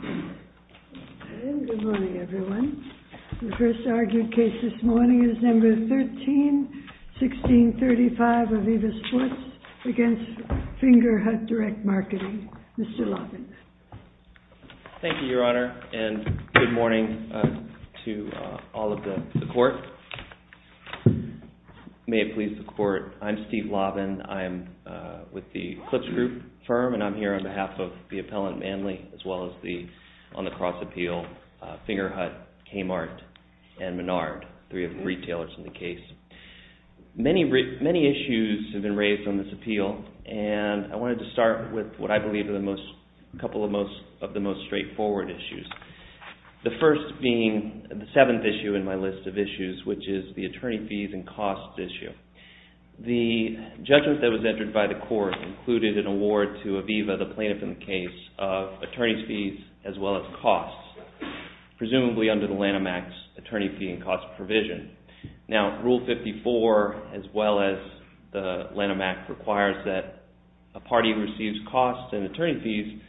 Good morning, everyone. The first argued case this morning is Number 13-1635 of Aviva Sports v. Fingerhut Direct Marketing. Mr. Lavin. Thank you, Your Honor, and good morning to all of the court. May it please the court, I'm Steve Lavin. I'm with the Clips Group firm, and I'm here on behalf of the appellant Manley, as well as the, on the cross appeal, Fingerhut, Kmart, and Menard, three of the retailers in the case. Many issues have been raised on this appeal, and I wanted to start with what I believe are the most, a couple of the most straightforward issues. The first being the seventh issue in my list of issues, which is the attorney fees and costs issue. The judgment that was entered by the court included an award to Aviva, the plaintiff in the case, of attorney fees as well as costs, presumably under the Lanham Act's attorney fee and costs provision. Now, Rule 54, as well as the Lanham Act, requires that a party receives costs and attorney fees.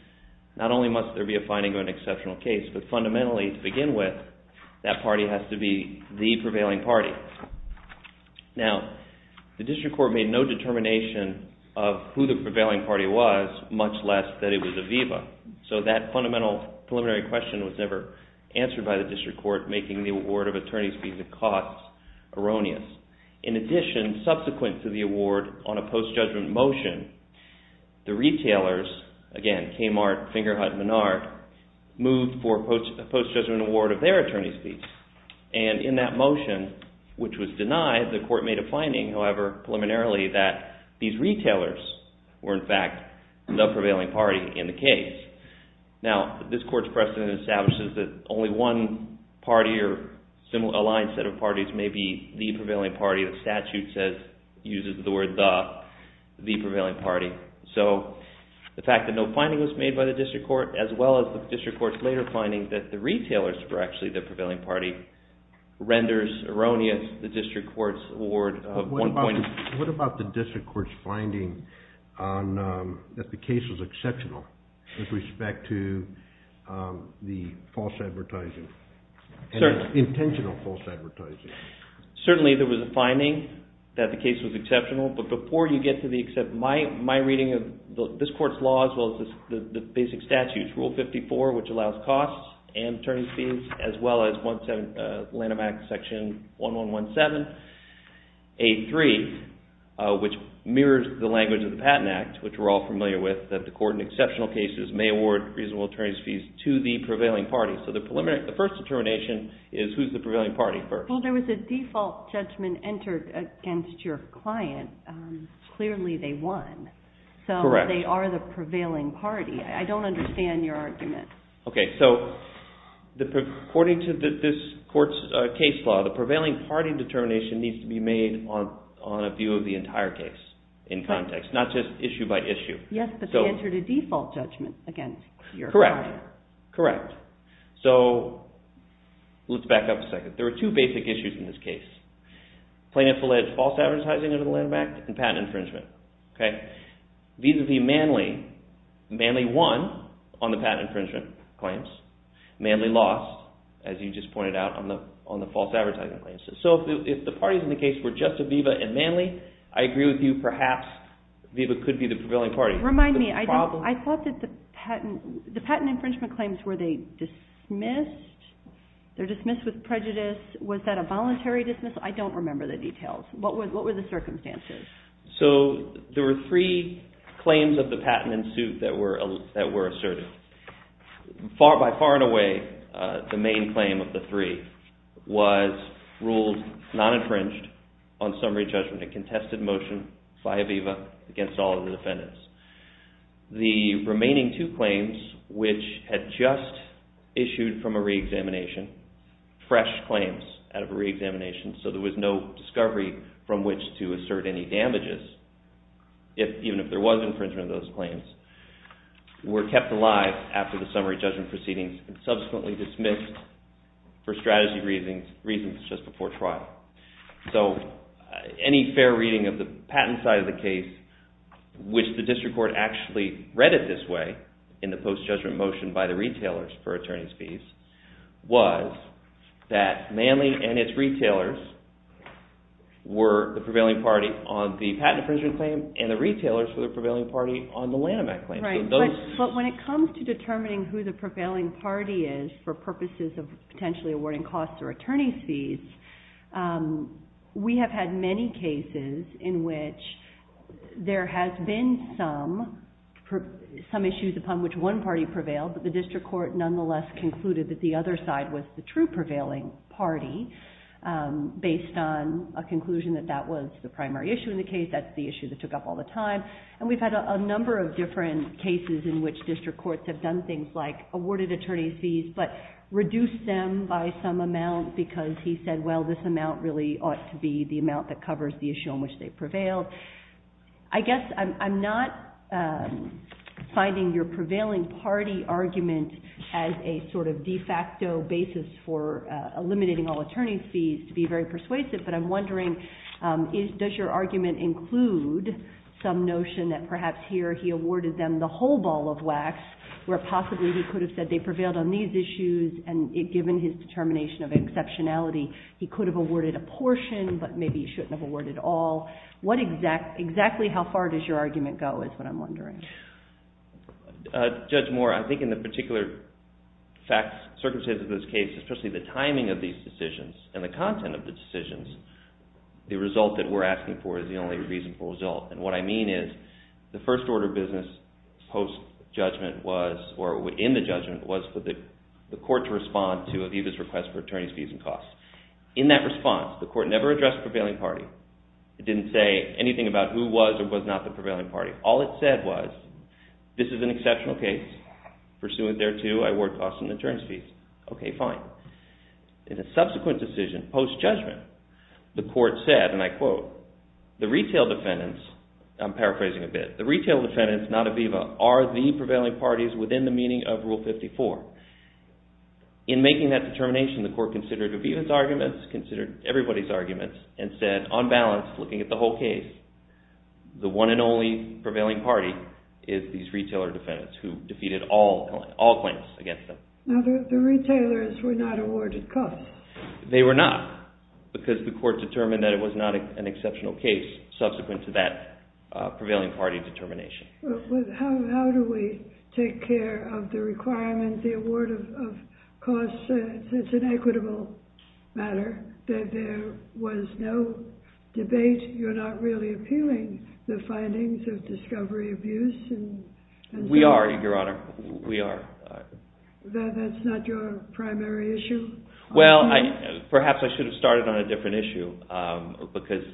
Not only must there be a finding of an exceptional case, but fundamentally, to begin with, that party has to be the prevailing party. Now, the district court made no determination of who the prevailing party was, much less that it was Aviva. So that fundamental preliminary question was never answered by the district court, making the award of attorney fees and costs erroneous. In addition, subsequent to the award on a post-judgment motion, the retailers, again, Kmart, Fingerhut, Menard, moved for a post-judgment award of their attorney fees. And in that motion, which was denied, the court made a finding, however, preliminarily, that these retailers were, in fact, the prevailing party in the case. Now, this court's precedent establishes that only one party or a line set of parties may be the prevailing party. The statute says, uses the word, the prevailing party. So the fact that no finding was made by the district court, as well as the district court's later finding that the retailers were actually the prevailing party, renders erroneous the district court's award of one point… What about the district court's finding that the case was exceptional with respect to the false advertising, the intentional false advertising? Certainly, there was a finding that the case was exceptional, but before you get to my reading of this court's law, as well as the basic statutes, Rule 54, which allows costs and attorney fees, as well as Lanham Act Section 1117, 8.3, which mirrors the language of the Patent Act, which we're all familiar with, that the court in exceptional cases may award reasonable attorney fees to the prevailing party. So the first determination is who's the prevailing party first. Well, there was a default judgment entered against your client. Clearly, they won. Correct. So they are the prevailing party. I don't understand your argument. Okay, so according to this court's case law, the prevailing party determination needs to be made on a view of the entire case in context, not just issue by issue. Yes, but they entered a default judgment against your client. Correct. So let's back up a second. There are two basic issues in this case. Plaintiff alleged false advertising under the Lanham Act and patent infringement. Vis-a-vis Manley, Manley won on the patent infringement claims. Manley lost, as you just pointed out, on the false advertising claims. So if the parties in the case were just Aviva and Manley, I agree with you, perhaps Aviva could be the prevailing party. Remind me, I thought that the patent infringement claims were they dismissed? They're dismissed with prejudice. Was that a voluntary dismissal? I don't remember the details. What were the circumstances? So there were three claims of the patent in suit that were asserted. By far and away, the main claim of the three was ruled non-infringed on summary judgment. A contested motion by Aviva against all of the defendants. The remaining two claims, which had just issued from a re-examination, fresh claims out of a re-examination, so there was no discovery from which to assert any damages, even if there was infringement of those claims, were kept alive after the summary judgment proceedings and subsequently dismissed for strategy reasons just before trial. So any fair reading of the patent side of the case, which the district court actually read it this way in the post-judgment motion by the retailers for attorney's fees, was that Manley and its retailers were the prevailing party on the patent infringement claim and the retailers were the prevailing party on the Lanham Act claim. But when it comes to determining who the prevailing party is for purposes of potentially awarding costs or attorney's fees, we have had many cases in which there has been some issues upon which one party prevailed, but the district court nonetheless concluded that the other side was the true prevailing party based on a conclusion that that was the primary issue in the case, that's the issue that took up all the time, and we've had a number of different cases in which district courts have done things like awarded attorney's fees but reduced them by some amount because he said, well, this amount really ought to be the amount that covers the issue on which they prevailed. I guess I'm not finding your prevailing party argument as a sort of de facto basis for eliminating all attorney's fees to be very persuasive, but I'm wondering, does your argument include some notion that perhaps here he awarded them the whole ball of wax, where possibly he could have said they prevailed on these issues and given his determination of exceptionality, he could have awarded a portion but maybe he shouldn't have awarded all. Exactly how far does your argument go is what I'm wondering. Judge Moore, I think in the particular circumstances of this case, especially the timing of these decisions and the content of the decisions, the result that we're asking for is the only reasonable result, and what I mean is the first order of business post-judgment was, or in the judgment, was for the court to respond to Aviva's request for attorney's fees and costs. In that response, the court never addressed the prevailing party. It didn't say anything about who was or was not the prevailing party. All it said was, this is an exceptional case. Pursuant thereto, I award costs and attorney's fees. Okay, fine. In a subsequent decision, post-judgment, the court said, and I quote, the retail defendants, I'm paraphrasing a bit, the retail defendants, not Aviva, are the prevailing parties within the meaning of Rule 54. In making that determination, the court considered Aviva's arguments, considered everybody's arguments, and said, on balance, looking at the whole case, the one and only prevailing party is these retailer defendants who defeated all claims against them. Now, the retailers were not awarded costs. They were not, because the court determined that it was not an exceptional case subsequent to that prevailing party determination. How do we take care of the requirement, the award of costs? It's an equitable matter. There was no debate. You're not really appealing the findings of discovery abuse. We are, Your Honor. We are. That's not your primary issue? Well, perhaps I should have started on a different issue because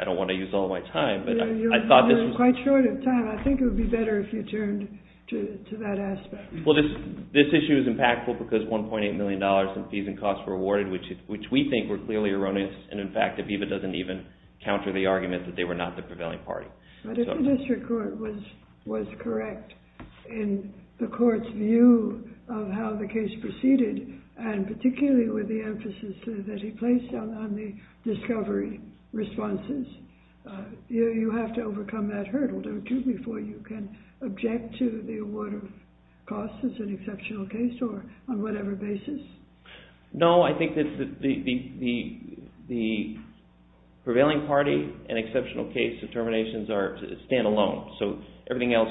I don't want to use all my time. You're running quite short of time. I think it would be better if you turned to that aspect. Well, this issue is impactful because $1.8 million in fees and costs were awarded, which we think were clearly erroneous, and, in fact, Aviva doesn't even counter the argument that they were not the prevailing party. But if the district court was correct in the court's view of how the case proceeded, and particularly with the emphasis that he placed on the discovery responses, you have to overcome that hurdle, don't you, before you can object to the award of costs as an exceptional case or on whatever basis? No, I think that the prevailing party and exceptional case determinations stand alone, so everything else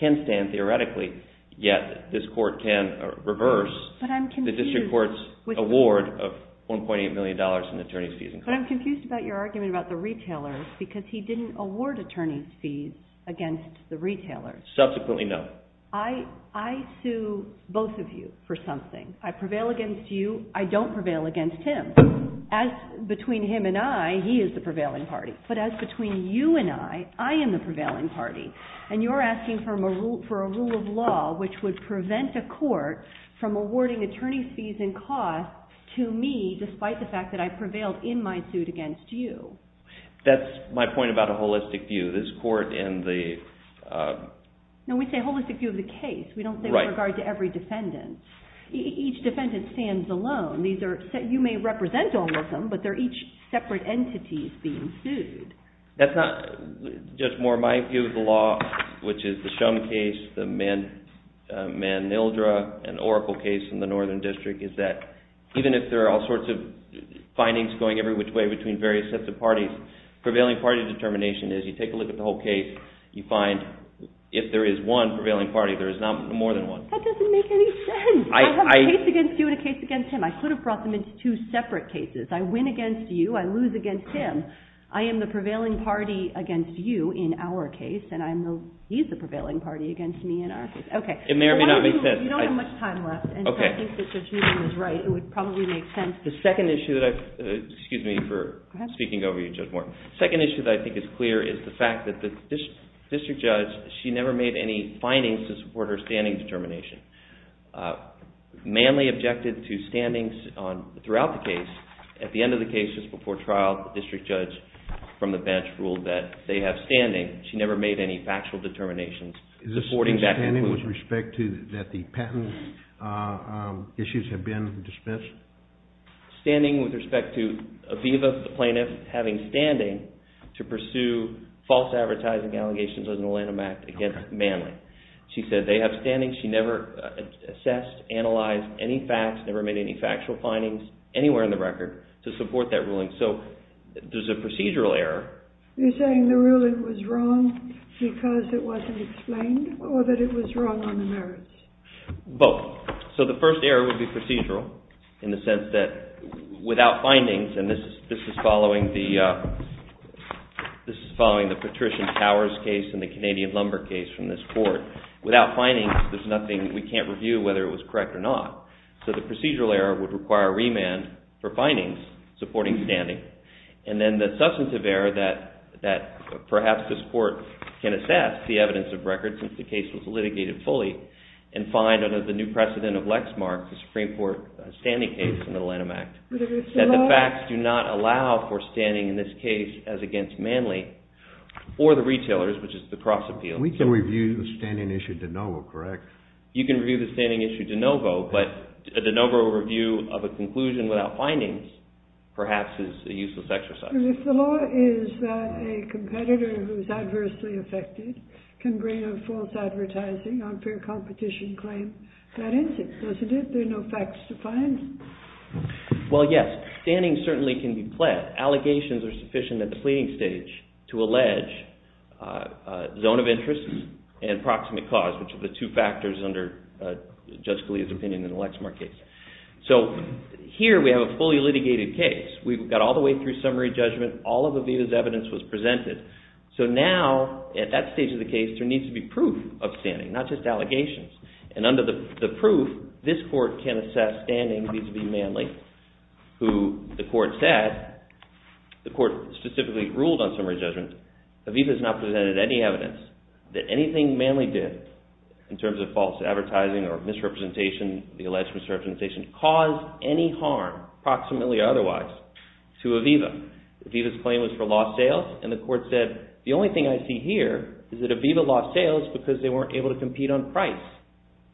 can stand theoretically, yet this court can reverse the district court's award of $1.8 million in attorney's fees and costs. But I'm confused about your argument about the retailers because he didn't award attorney's fees against the retailers. Subsequently, no. I sue both of you for something. I prevail against you. I don't prevail against him. Between him and I, he is the prevailing party, but as between you and I, I am the prevailing party, and you're asking for a rule of law which would prevent a court from awarding attorney's fees and costs to me despite the fact that I prevailed in my suit against you. That's my point about a holistic view. This court and the… No, we say holistic view of the case. We don't say with regard to every defendant. Each defendant stands alone. You may represent all of them, but they're each separate entities being sued. That's not, Judge Moore. My view of the law, which is the Shum case, the Manildra and Oracle case in the Northern District, is that even if there are all sorts of findings going every which way between various sets of parties, prevailing party determination is you take a look at the whole case, you find if there is one prevailing party, there is no more than one. That doesn't make any sense. I have a case against you and a case against him. I could have brought them into two separate cases. I win against you. I lose against him. I am the prevailing party against you in our case, and he is the prevailing party against me in our case. Okay. It may or may not make sense. You don't have much time left, and so I think that Judge Newton is right. It would probably make sense. The second issue that I've… Excuse me for speaking over you, Judge Moore. The second issue that I think is clear is the fact that the district judge, she never made any findings to support her standing determination. Manly objected to standings throughout the case. At the end of the case, just before trial, the district judge from the bench ruled that they have standing. She never made any factual determinations supporting that conclusion. Is this standing with respect to that the patent issues have been dismissed? Standing with respect to Aviva, the plaintiff, having standing to pursue false advertising allegations under the Lanham Act against Manly. She said they have standing. She never assessed, analyzed any facts, never made any factual findings anywhere in the record to support that ruling. So there's a procedural error. You're saying the ruling was wrong because it wasn't explained or that it was wrong on the merits? Both. So the first error would be procedural in the sense that without findings, and this is following the Patrician Towers case and the Canadian Lumber case from this court. Without findings, there's nothing we can't review whether it was correct or not. So the procedural error would require a remand for findings supporting standing. And then the substantive error that perhaps this court can assess the evidence of record since the case was litigated fully and find under the new precedent of Lexmark, the Supreme Court standing case in the Lanham Act. That the facts do not allow for standing in this case as against Manly or the retailers, which is the cross appeal. We can review the standing issue de novo, correct? You can review the standing issue de novo, but a de novo review of a conclusion without findings perhaps is a useless exercise. If the law is that a competitor who is adversely affected can bring a false advertising, unfair competition claim, that is it, isn't it? There are no facts to find. Well, yes, standing certainly can be pled. Allegations are sufficient at the pleading stage to allege zone of interest and proximate cause, which are the two factors under Judge Scalia's opinion in the Lexmark case. So here we have a fully litigated case. We've got all the way through summary judgment. All of Aviva's evidence was presented. So now at that stage of the case, there needs to be proof of standing, not just allegations. And under the proof, this court can assess standing vis-a-vis Manly, who the court said, the court specifically ruled on summary judgment, Aviva has not presented any evidence that anything Manly did in terms of false advertising or misrepresentation, the alleged misrepresentation, caused any harm, proximately or otherwise, to Aviva. Aviva's claim was for lost sales, and the court said, the only thing I see here is that Aviva lost sales because they weren't able to compete on price.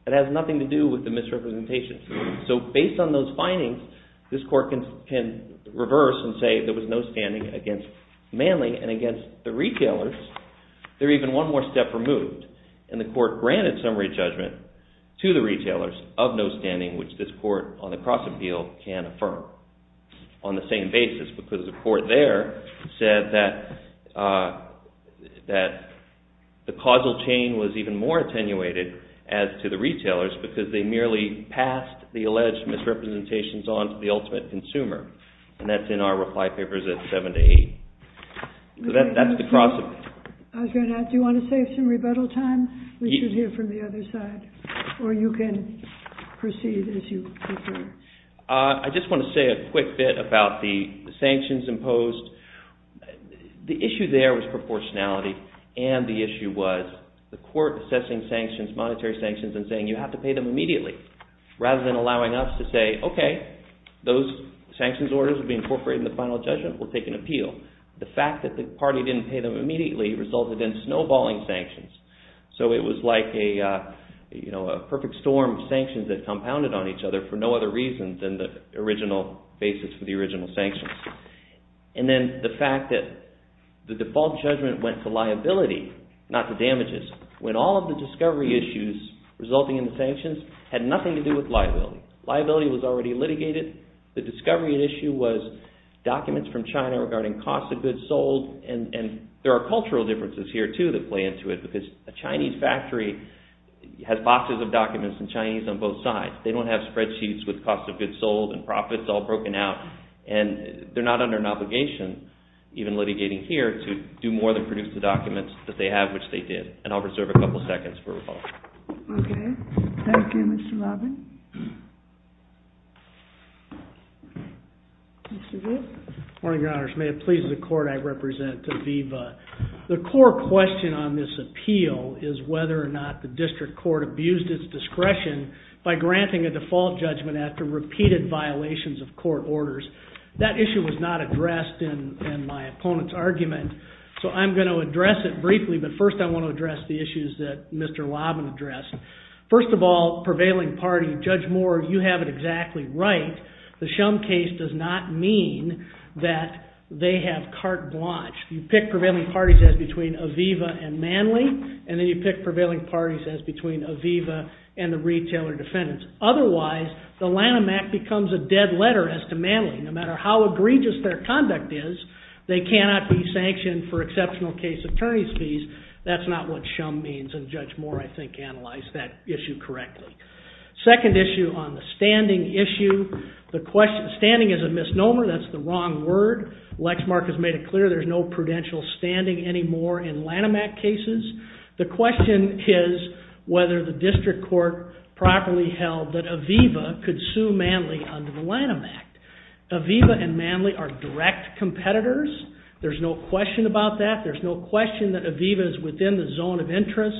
It has nothing to do with the misrepresentation. So based on those findings, this court can reverse and say there was no standing against Manly and against the retailers. They're even one more step removed. And the court granted summary judgment to the retailers of no standing, which this court on the cross-appeal can affirm on the same basis, because the court there said that the causal chain was even more attenuated as to the retailers because they merely passed the alleged misrepresentations on to the ultimate consumer. And that's in our reply papers at 7 to 8. So that's the cross-appeal. I was going to ask, do you want to save some rebuttal time? We should hear from the other side. Or you can proceed as you prefer. I just want to say a quick bit about the sanctions imposed. The issue there was proportionality, and the issue was the court assessing sanctions, monetary sanctions, and saying you have to pay them immediately, rather than allowing us to say, okay, those sanctions orders will be incorporated in the final judgment. We'll take an appeal. The fact that the party didn't pay them immediately resulted in snowballing sanctions. So it was like a perfect storm of sanctions that compounded on each other for no other reason than the original basis for the original sanctions. And then the fact that the default judgment went to liability, not to damages, when all of the discovery issues resulting in the sanctions had nothing to do with liability. Liability was already litigated. The discovery issue was documents from China regarding cost of goods sold. And there are cultural differences here, too, that play into it, because a Chinese factory has boxes of documents in Chinese on both sides. They don't have spreadsheets with cost of goods sold and profits all broken out, and they're not under an obligation, even litigating here, to do more than produce the documents that they have, which they did. And I'll reserve a couple seconds for rebuttal. Okay. Thank you, Mr. Robin. Mr. Goode? Good morning, Your Honors. May it please the court I represent to viva. The core question on this appeal is whether or not the district court abused its discretion by granting a default judgment after repeated violations of court orders. That issue was not addressed in my opponent's argument, so I'm going to address it briefly. But first I want to address the issues that Mr. Lobbin addressed. First of all, prevailing party, Judge Moore, you have it exactly right. The Shum case does not mean that they have carte blanche. You pick prevailing parties as between Aviva and Manley, and then you pick prevailing parties as between Aviva and the retailer defendants. Otherwise, the Lanham Act becomes a dead letter as to Manley. No matter how egregious their conduct is, they cannot be sanctioned for exceptional case attorney's fees. That's not what Shum means, and Judge Moore, I think, analyzed that issue correctly. Second issue on the standing issue. Standing is a misnomer. That's the wrong word. Lexmark has made it clear there's no prudential standing anymore in Lanham Act cases. The question is whether the district court properly held that Aviva could sue Manley under the Lanham Act. Aviva and Manley are direct competitors. There's no question about that. There's no question that Aviva is within the zone of interest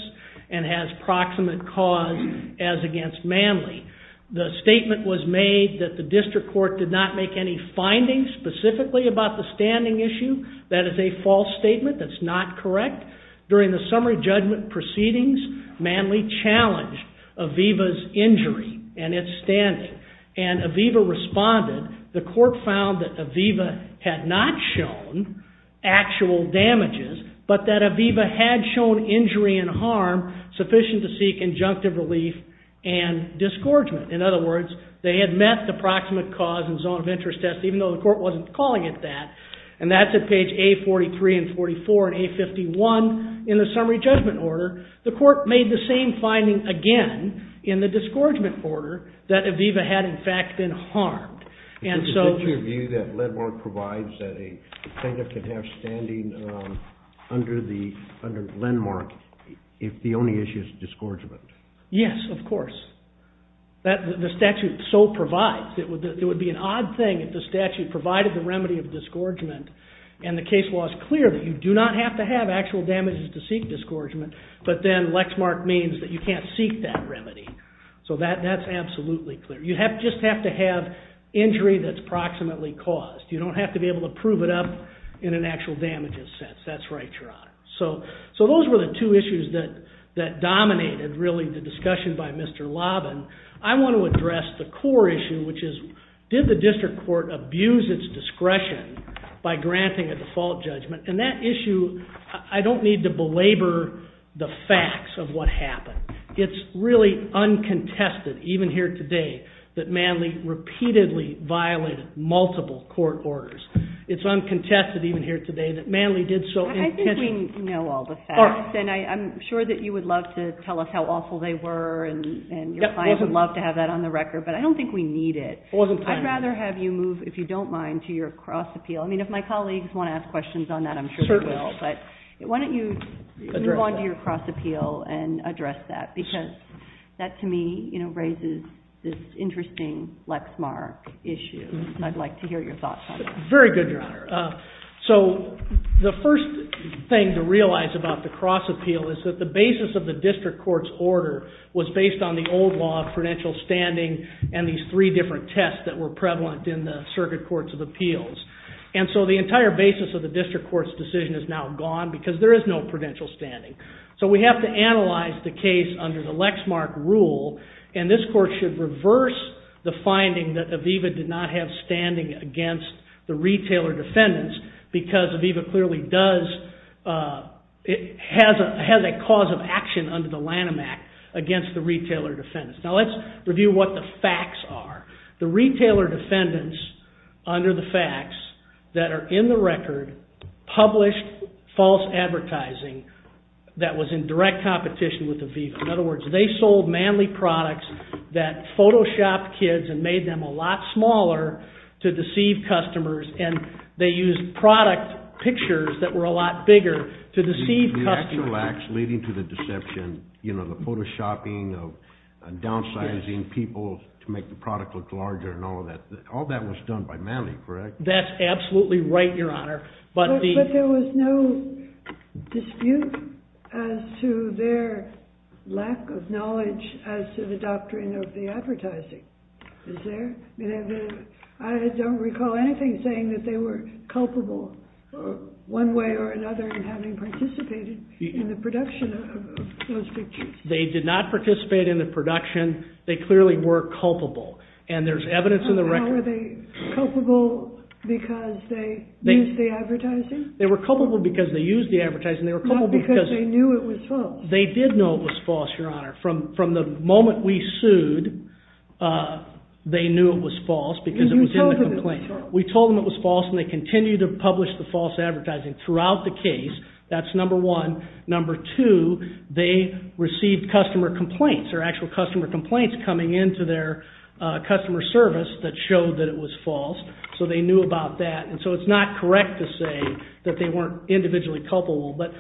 and has proximate cause as against Manley. The statement was made that the district court did not make any findings specifically about the standing issue. That is a false statement. That's not correct. During the summary judgment proceedings, Manley challenged Aviva's injury and its standing, and Aviva responded. The court found that Aviva had not shown actual damages, but that Aviva had shown injury and harm sufficient to seek injunctive relief and disgorgement. In other words, they had met the proximate cause and zone of interest test, even though the court wasn't calling it that. And that's at page A43 and 44 and A51 in the summary judgment order. The court made the same finding again in the disgorgement order that Aviva had, in fact, been harmed. Is it your view that Lendmark provides that a plaintiff can have standing under Lendmark if the only issue is disgorgement? Yes, of course. The statute so provides. It would be an odd thing if the statute provided the remedy of disgorgement, and the case law is clear that you do not have to have actual damages to seek disgorgement, but then Lexmark means that you can't seek that remedy. So that's absolutely clear. You just have to have injury that's proximately caused. You don't have to be able to prove it up in an actual damages sense. That's right, Your Honor. So those were the two issues that dominated, really, the discussion by Mr. Lobben. I want to address the core issue, which is, did the district court abuse its discretion by granting a default judgment? And that issue, I don't need to belabor the facts of what happened. It's really uncontested, even here today, that Manley repeatedly violated multiple court orders. It's uncontested, even here today, that Manley did so intentionally. I think we know all the facts, and I'm sure that you would love to tell us how awful they were, and your client would love to have that on the record. But I don't think we need it. I'd rather have you move, if you don't mind, to your cross appeal. I mean, if my colleagues want to ask questions on that, I'm sure they will. But why don't you move on to your cross appeal and address that? Because that, to me, raises this interesting Lexmark issue. I'd like to hear your thoughts on that. Very good, Your Honor. So the first thing to realize about the cross appeal is that the basis of the district court's order was based on the old law of prudential standing and these three different tests that were prevalent in the circuit courts of appeals. And so the entire basis of the district court's decision is now gone, because there is no prudential standing. So we have to analyze the case under the Lexmark rule, and this court should reverse the finding that Aviva did not have standing against the retailer defendants, because Aviva clearly has a cause of action under the Lanham Act against the retailer defendants. Now let's review what the facts are. The retailer defendants, under the facts that are in the record, published false advertising that was in direct competition with Aviva. In other words, they sold manly products that photoshopped kids and made them a lot smaller to deceive customers. And they used product pictures that were a lot bigger to deceive customers. The actual acts leading to the deception, the photoshopping of downsizing people to make the product look larger and all of that, all that was done by manly, correct? That's absolutely right, Your Honor. But there was no dispute as to their lack of knowledge as to the doctrine of the advertising. Is there? I don't recall anything saying that they were culpable one way or another in having participated in the production of those pictures. They did not participate in the production. They clearly were culpable. And there's evidence in the record. Now, were they culpable because they used the advertising? They were culpable because they used the advertising. Not because they knew it was false. They did know it was false, Your Honor. From the moment we sued, they knew it was false because it was in the complaint. We told them it was false, and they continued to publish the false advertising throughout the case. That's number one. Number two, they received customer complaints, or actual customer complaints coming in to their customer service that showed that it was false. So they knew about that. And so it's not correct to say that they weren't individually culpable. But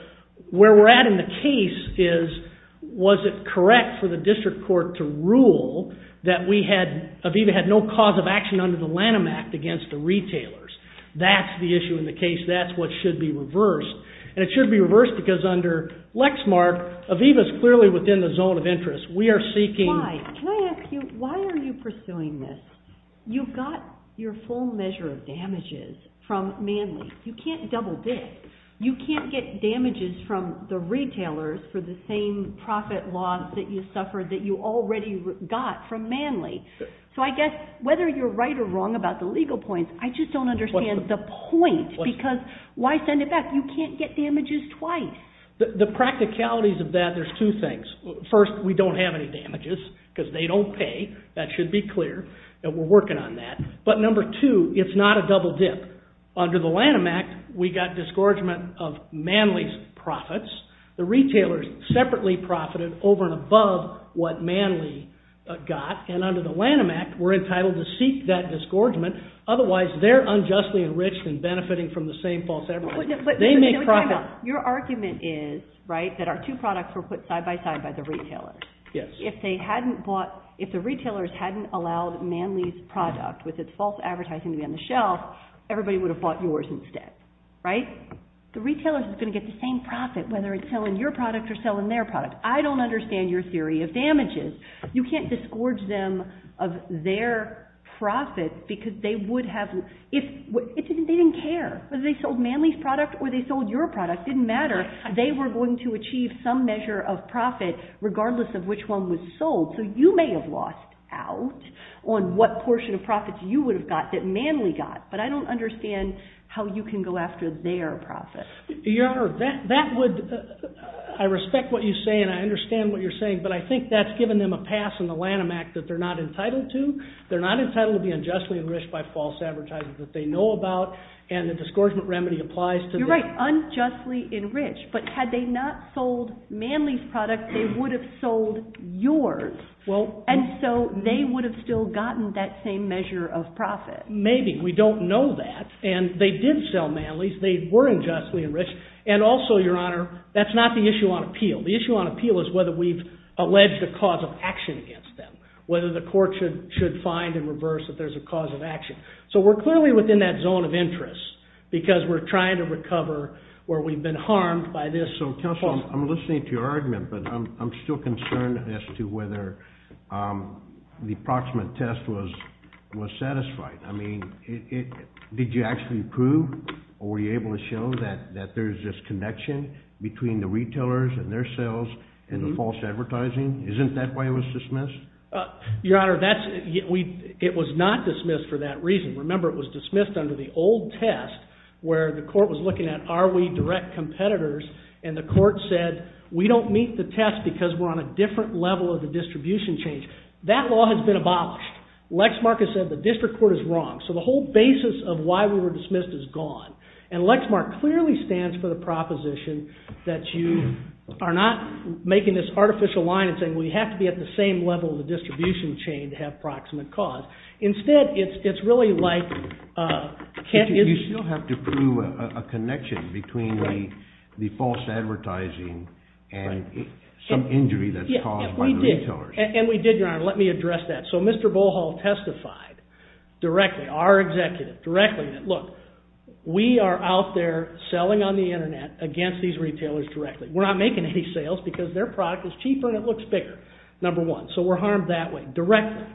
where we're at in the case is, was it correct for the district court to rule that Aviva had no cause of action under the Lanham Act against the retailers? That's the issue in the case. That's what should be reversed. And it should be reversed because under Lexmark, Aviva's clearly within the zone of interest. We are seeking... Why? Can I ask you, why are you pursuing this? You've got your full measure of damages from Manly. You can't double-dip. You can't get damages from the retailers for the same profit loss that you suffered that you already got from Manly. So I guess whether you're right or wrong about the legal points, I just don't understand the point because why send it back? You can't get damages twice. The practicalities of that, there's two things. First, we don't have any damages because they don't pay. That should be clear. And we're working on that. But number two, it's not a double-dip. Under the Lanham Act, we got disgorgement of Manly's profits. The retailers separately profited over and above what Manly got. And under the Lanham Act, we're entitled to seek that disgorgement. Otherwise, they're unjustly enriched and benefiting from the same false evidence. They make profits. Your argument is, right, that our two products were put side-by-side by the retailers. Yes. If the retailers hadn't allowed Manly's product with its false advertising to be on the shelf, everybody would have bought yours instead, right? The retailers are going to get the same profit, whether it's selling your product or selling their product. I don't understand your theory of damages. You can't disgorge them of their profit because they didn't care whether they sold Manly's product or they sold your product. It didn't matter. They were going to achieve some measure of profit, regardless of which one was sold. So you may have lost out on what portion of profits you would have got that Manly got. But I don't understand how you can go after their profit. Your Honor, that would, I respect what you say and I understand what you're saying, but I think that's given them a pass on the Lanham Act that they're not entitled to. They're not entitled to be unjustly enriched by false advertising that they know about and the disgorgement remedy applies to them. They're unjustly enriched, but had they not sold Manly's product, they would have sold yours. And so they would have still gotten that same measure of profit. Maybe. We don't know that. And they did sell Manly's. They were unjustly enriched. And also, Your Honor, that's not the issue on appeal. The issue on appeal is whether we've alleged a cause of action against them, whether the court should find in reverse that there's a cause of action. So we're clearly within that zone of interest because we're trying to recover where we've been harmed by this. So Counselor, I'm listening to your argument, but I'm still concerned as to whether the approximate test was satisfied. I mean, did you actually prove or were you able to show that there's this connection between the retailers and their sales and the false advertising? Isn't that why it was dismissed? Your Honor, it was not dismissed for that reason. Remember, it was dismissed under the old test where the court was looking at, are we direct competitors? And the court said, we don't meet the test because we're on a different level of the distribution chain. That law has been abolished. Lexmark has said the district court is wrong. So the whole basis of why we were dismissed is gone. And Lexmark clearly stands for the proposition that you are not making this artificial line and saying, well, you have to be at the same level of the distribution chain to have proximate cause. Instead, it's really like... But you still have to prove a connection between the false advertising and some injury that's caused by the retailers. And we did, Your Honor. Let me address that. So Mr. Bohol testified directly, our executive directly, that look, we are out there selling on the Internet against these retailers directly. We're not making any sales because their product is cheaper and it looks bigger, number one. So we're harmed that way, directly.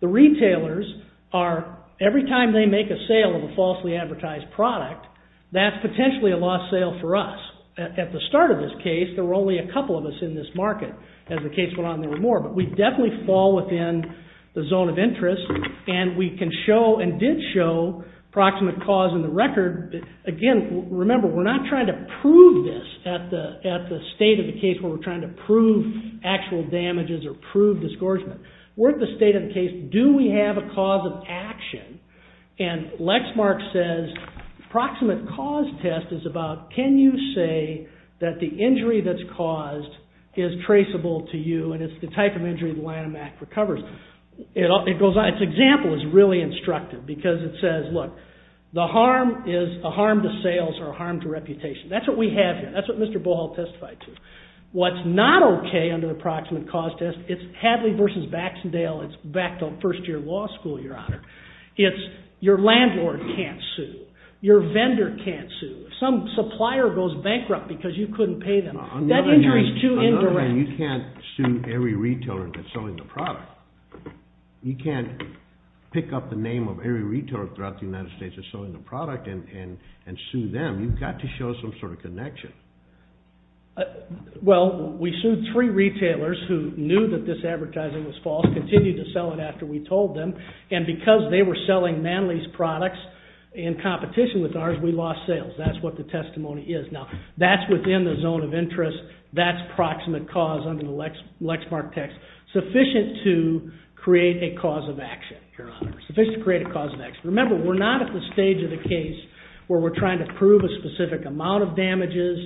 The retailers are... Every time they make a sale of a falsely advertised product, that's potentially a lost sale for us. At the start of this case, there were only a couple of us in this market. As the case went on, there were more. But we definitely fall within the zone of interest and we can show and did show proximate cause in the record. Again, remember, we're not trying to prove this at the state of the case where we're trying to prove actual damages or prove disgorgement. We're at the state of the case, do we have a cause of action? And Lexmark says, proximate cause test is about can you say that the injury that's caused is traceable to you and it's the type of injury the Lanham Act recovers. Its example is really instructive because it says, look, the harm is a harm to sales or a harm to reputation. That's what we have here. That's what Mr. Bohol testified to. What's not okay under the proximate cause test, it's Hadley versus Baxendale, it's back to first year law school, Your Honor. It's your landlord can't sue. Your vendor can't sue. Some supplier goes bankrupt because you couldn't pay them. That injury is too indirect. Another thing, you can't sue every retailer that's selling the product. You can't pick up the name of every retailer throughout the United States that's selling the product and sue them. You've got to show some sort of connection. Well, we sued three retailers who knew that this advertising was false, continued to sell it after we told them, and because they were selling Manley's products in competition with ours, we lost sales. That's what the testimony is. Now, that's within the zone of interest. That's proximate cause under the Lexmark test, sufficient to create a cause of action, Your Honor. Remember, we're not at the stage of the case where we're trying to prove a specific amount of damages,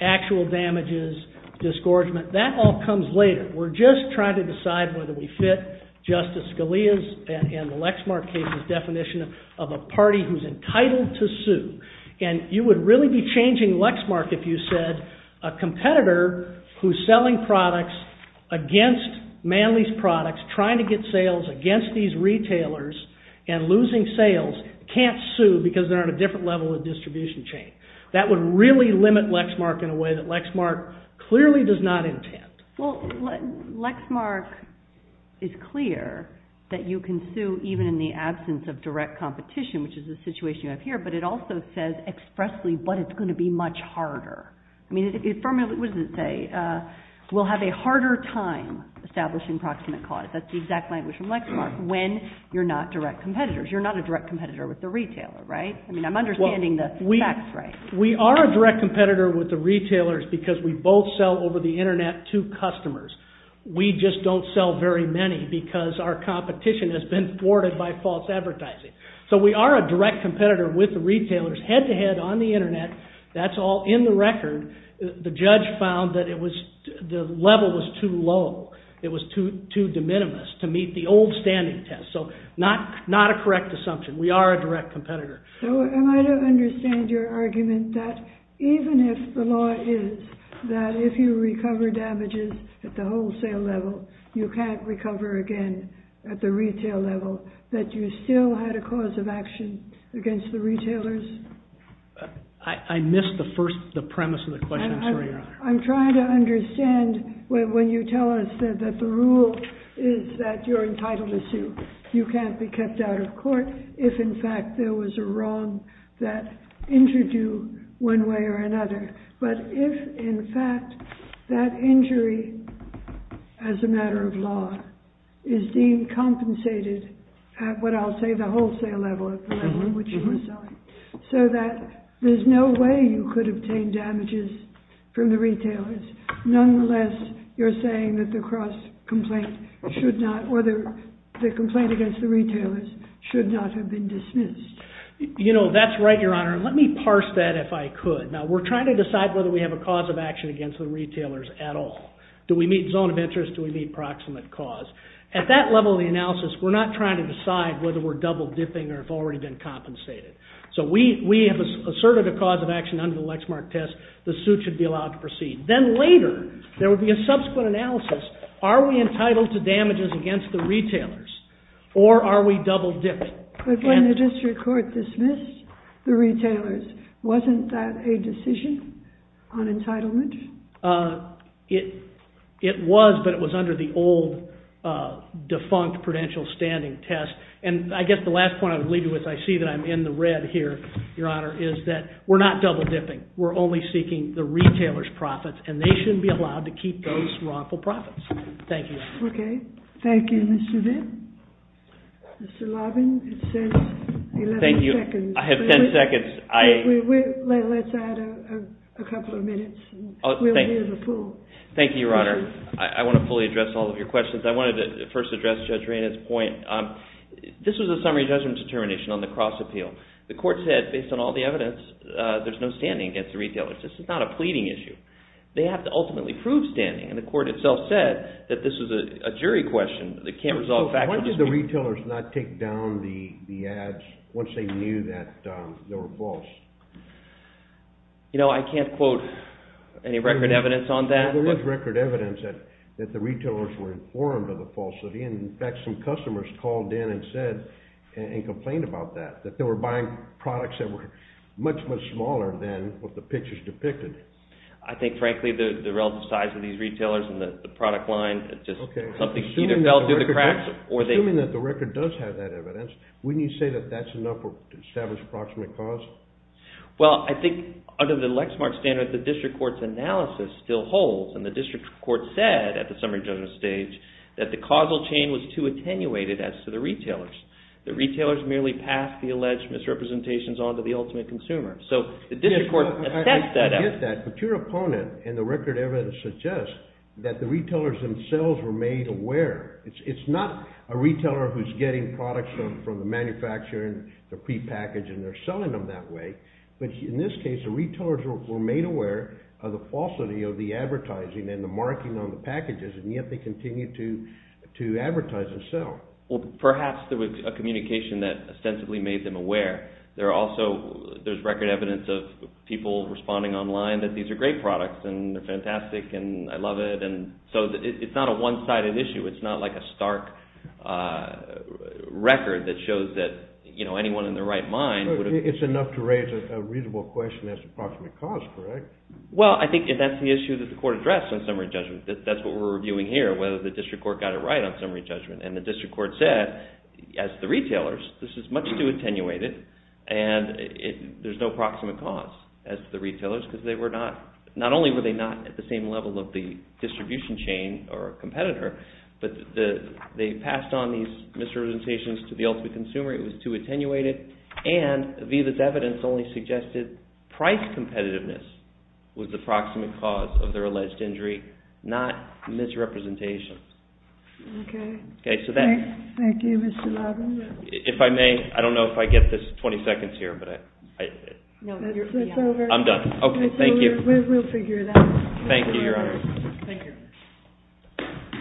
actual damages, disgorgement. That all comes later. We're just trying to decide whether we fit Justice Scalia's and the Lexmark case's definition of a party who's entitled to sue. You would really be changing Lexmark if you said a competitor who's selling products against Manley's products, trying to get sales against these retailers and losing sales can't sue because they're on a different level of distribution chain. That would really limit Lexmark in a way that Lexmark clearly does not intend. Well, Lexmark is clear that you can sue even in the absence of direct competition, which is the situation you have here, but it also says expressly but it's going to be much harder. I mean, it firmly, what does it say? We'll have a harder time establishing proximate cause. That's the exact language from Lexmark when you're not direct competitors. You're not a direct competitor with the retailer, right? I mean, I'm understanding the facts right. We are a direct competitor with the retailers because we both sell over the internet to customers. We just don't sell very many because our competition has been thwarted by false advertising. So we are a direct competitor with the retailers head-to-head on the internet. That's all in the record. The judge found that the level was too low. It was too de minimis to meet the old standing test. So not a correct assumption. We are a direct competitor. So am I to understand your argument that even if the law is that if you recover damages at the wholesale level, you can't recover again at the retail level, that you still had a cause of action against the retailers? I missed the premise of the question. I'm sorry, Your Honor. I'm trying to understand when you tell us You can't be kept out of court if, in fact, there was a wrong that injured you one way or another. But if, in fact, that injury, as a matter of law, is deemed compensated at what I'll say the wholesale level of the level at which you were selling so that there's no way you could obtain damages from the retailers, nonetheless, you're saying that the cross-complaint should not, or the complaint against the retailers should not have been dismissed. You know, that's right, Your Honor. Let me parse that if I could. Now, we're trying to decide whether we have a cause of action against the retailers at all. Do we meet zone of interest? Do we meet proximate cause? At that level of the analysis, we're not trying to decide whether we're double-dipping or have already been compensated. So we have asserted a cause of action under the Lexmark test. The suit should be allowed to proceed. Then later, there would be a subsequent analysis. Are we entitled to damages against the retailers? Or are we double-dipping? But when the district court dismissed the retailers, wasn't that a decision on entitlement? It was, but it was under the old defunct prudential standing test. And I guess the last point I would leave you with, I see that I'm in the red here, Your Honor, is that we're not double-dipping. We're only seeking the retailers' profits, and they shouldn't be allowed to keep those wrongful profits. Thank you, Your Honor. Okay. Thank you, Mr. Vinn. Mr. Lobbin, it says 11 seconds. I have 10 seconds. Let's add a couple of minutes. We'll be in the pool. Thank you, Your Honor. I want to fully address all of your questions. I wanted to first address Judge Rayna's point. This was a summary judgment determination on the cross-appeal. The court said, based on all the evidence, there's no standing against the retailers. This is not a pleading issue. They have to ultimately prove standing, and the court itself said that this is a jury question. It can't resolve factual disputes. Why did the retailers not take down the ads once they knew that they were false? You know, I can't quote any record evidence on that. There is record evidence that the retailers were informed of the falsity, and in fact, some customers called in and said and complained about that, that were much, much smaller than what the pictures depicted. I think, frankly, the relative size of these retailers and the product line, just something either fell through the cracks, or they... Assuming that the record does have that evidence, wouldn't you say that that's enough to establish approximate cause? Well, I think, under the Lexmark standard, the district court's analysis still holds, and the district court said, at the summary judgment stage, that the causal chain was too attenuated as to the retailers. The retailers merely passed the alleged misrepresentations on to the ultimate consumer. So, the district court assessed that evidence. I get that, but your opponent and the record evidence suggests that the retailers themselves were made aware. It's not a retailer who's getting products from the manufacturer and they're prepackaged and they're selling them that way, but in this case, the retailers were made aware of the falsity of the advertising and the marking on the packages, and yet they continue to advertise and sell. Well, perhaps there was a communication that ostensibly made them aware. There are also... There's record evidence of people responding online that these are great products and they're fantastic and I love it, and so it's not a one-sided issue. It's not like a stark record that shows that anyone in their right mind... It's enough to raise a reasonable question as to approximate cost, correct? Well, I think that's the issue that the court addressed in summary judgment. That's what we're reviewing here, whether the district court got it right on summary judgment, and the district court said, as the retailers, this is much too attenuated and there's no proximate cost as to the retailers because they were not... Not only were they not at the same level of the distribution chain or competitor, but they passed on these misrepresentations to the ultimate consumer. It was too attenuated, and VIVA's evidence only suggested price competitiveness was the proximate cause of their alleged injury, not misrepresentations. Okay. Okay, so that... Thank you, Mr. Levin. If I may, I don't know if I get this 20 seconds here, but I... It's over. I'm done. Okay, thank you. We'll figure it out. Thank you, Your Honor. Thank you.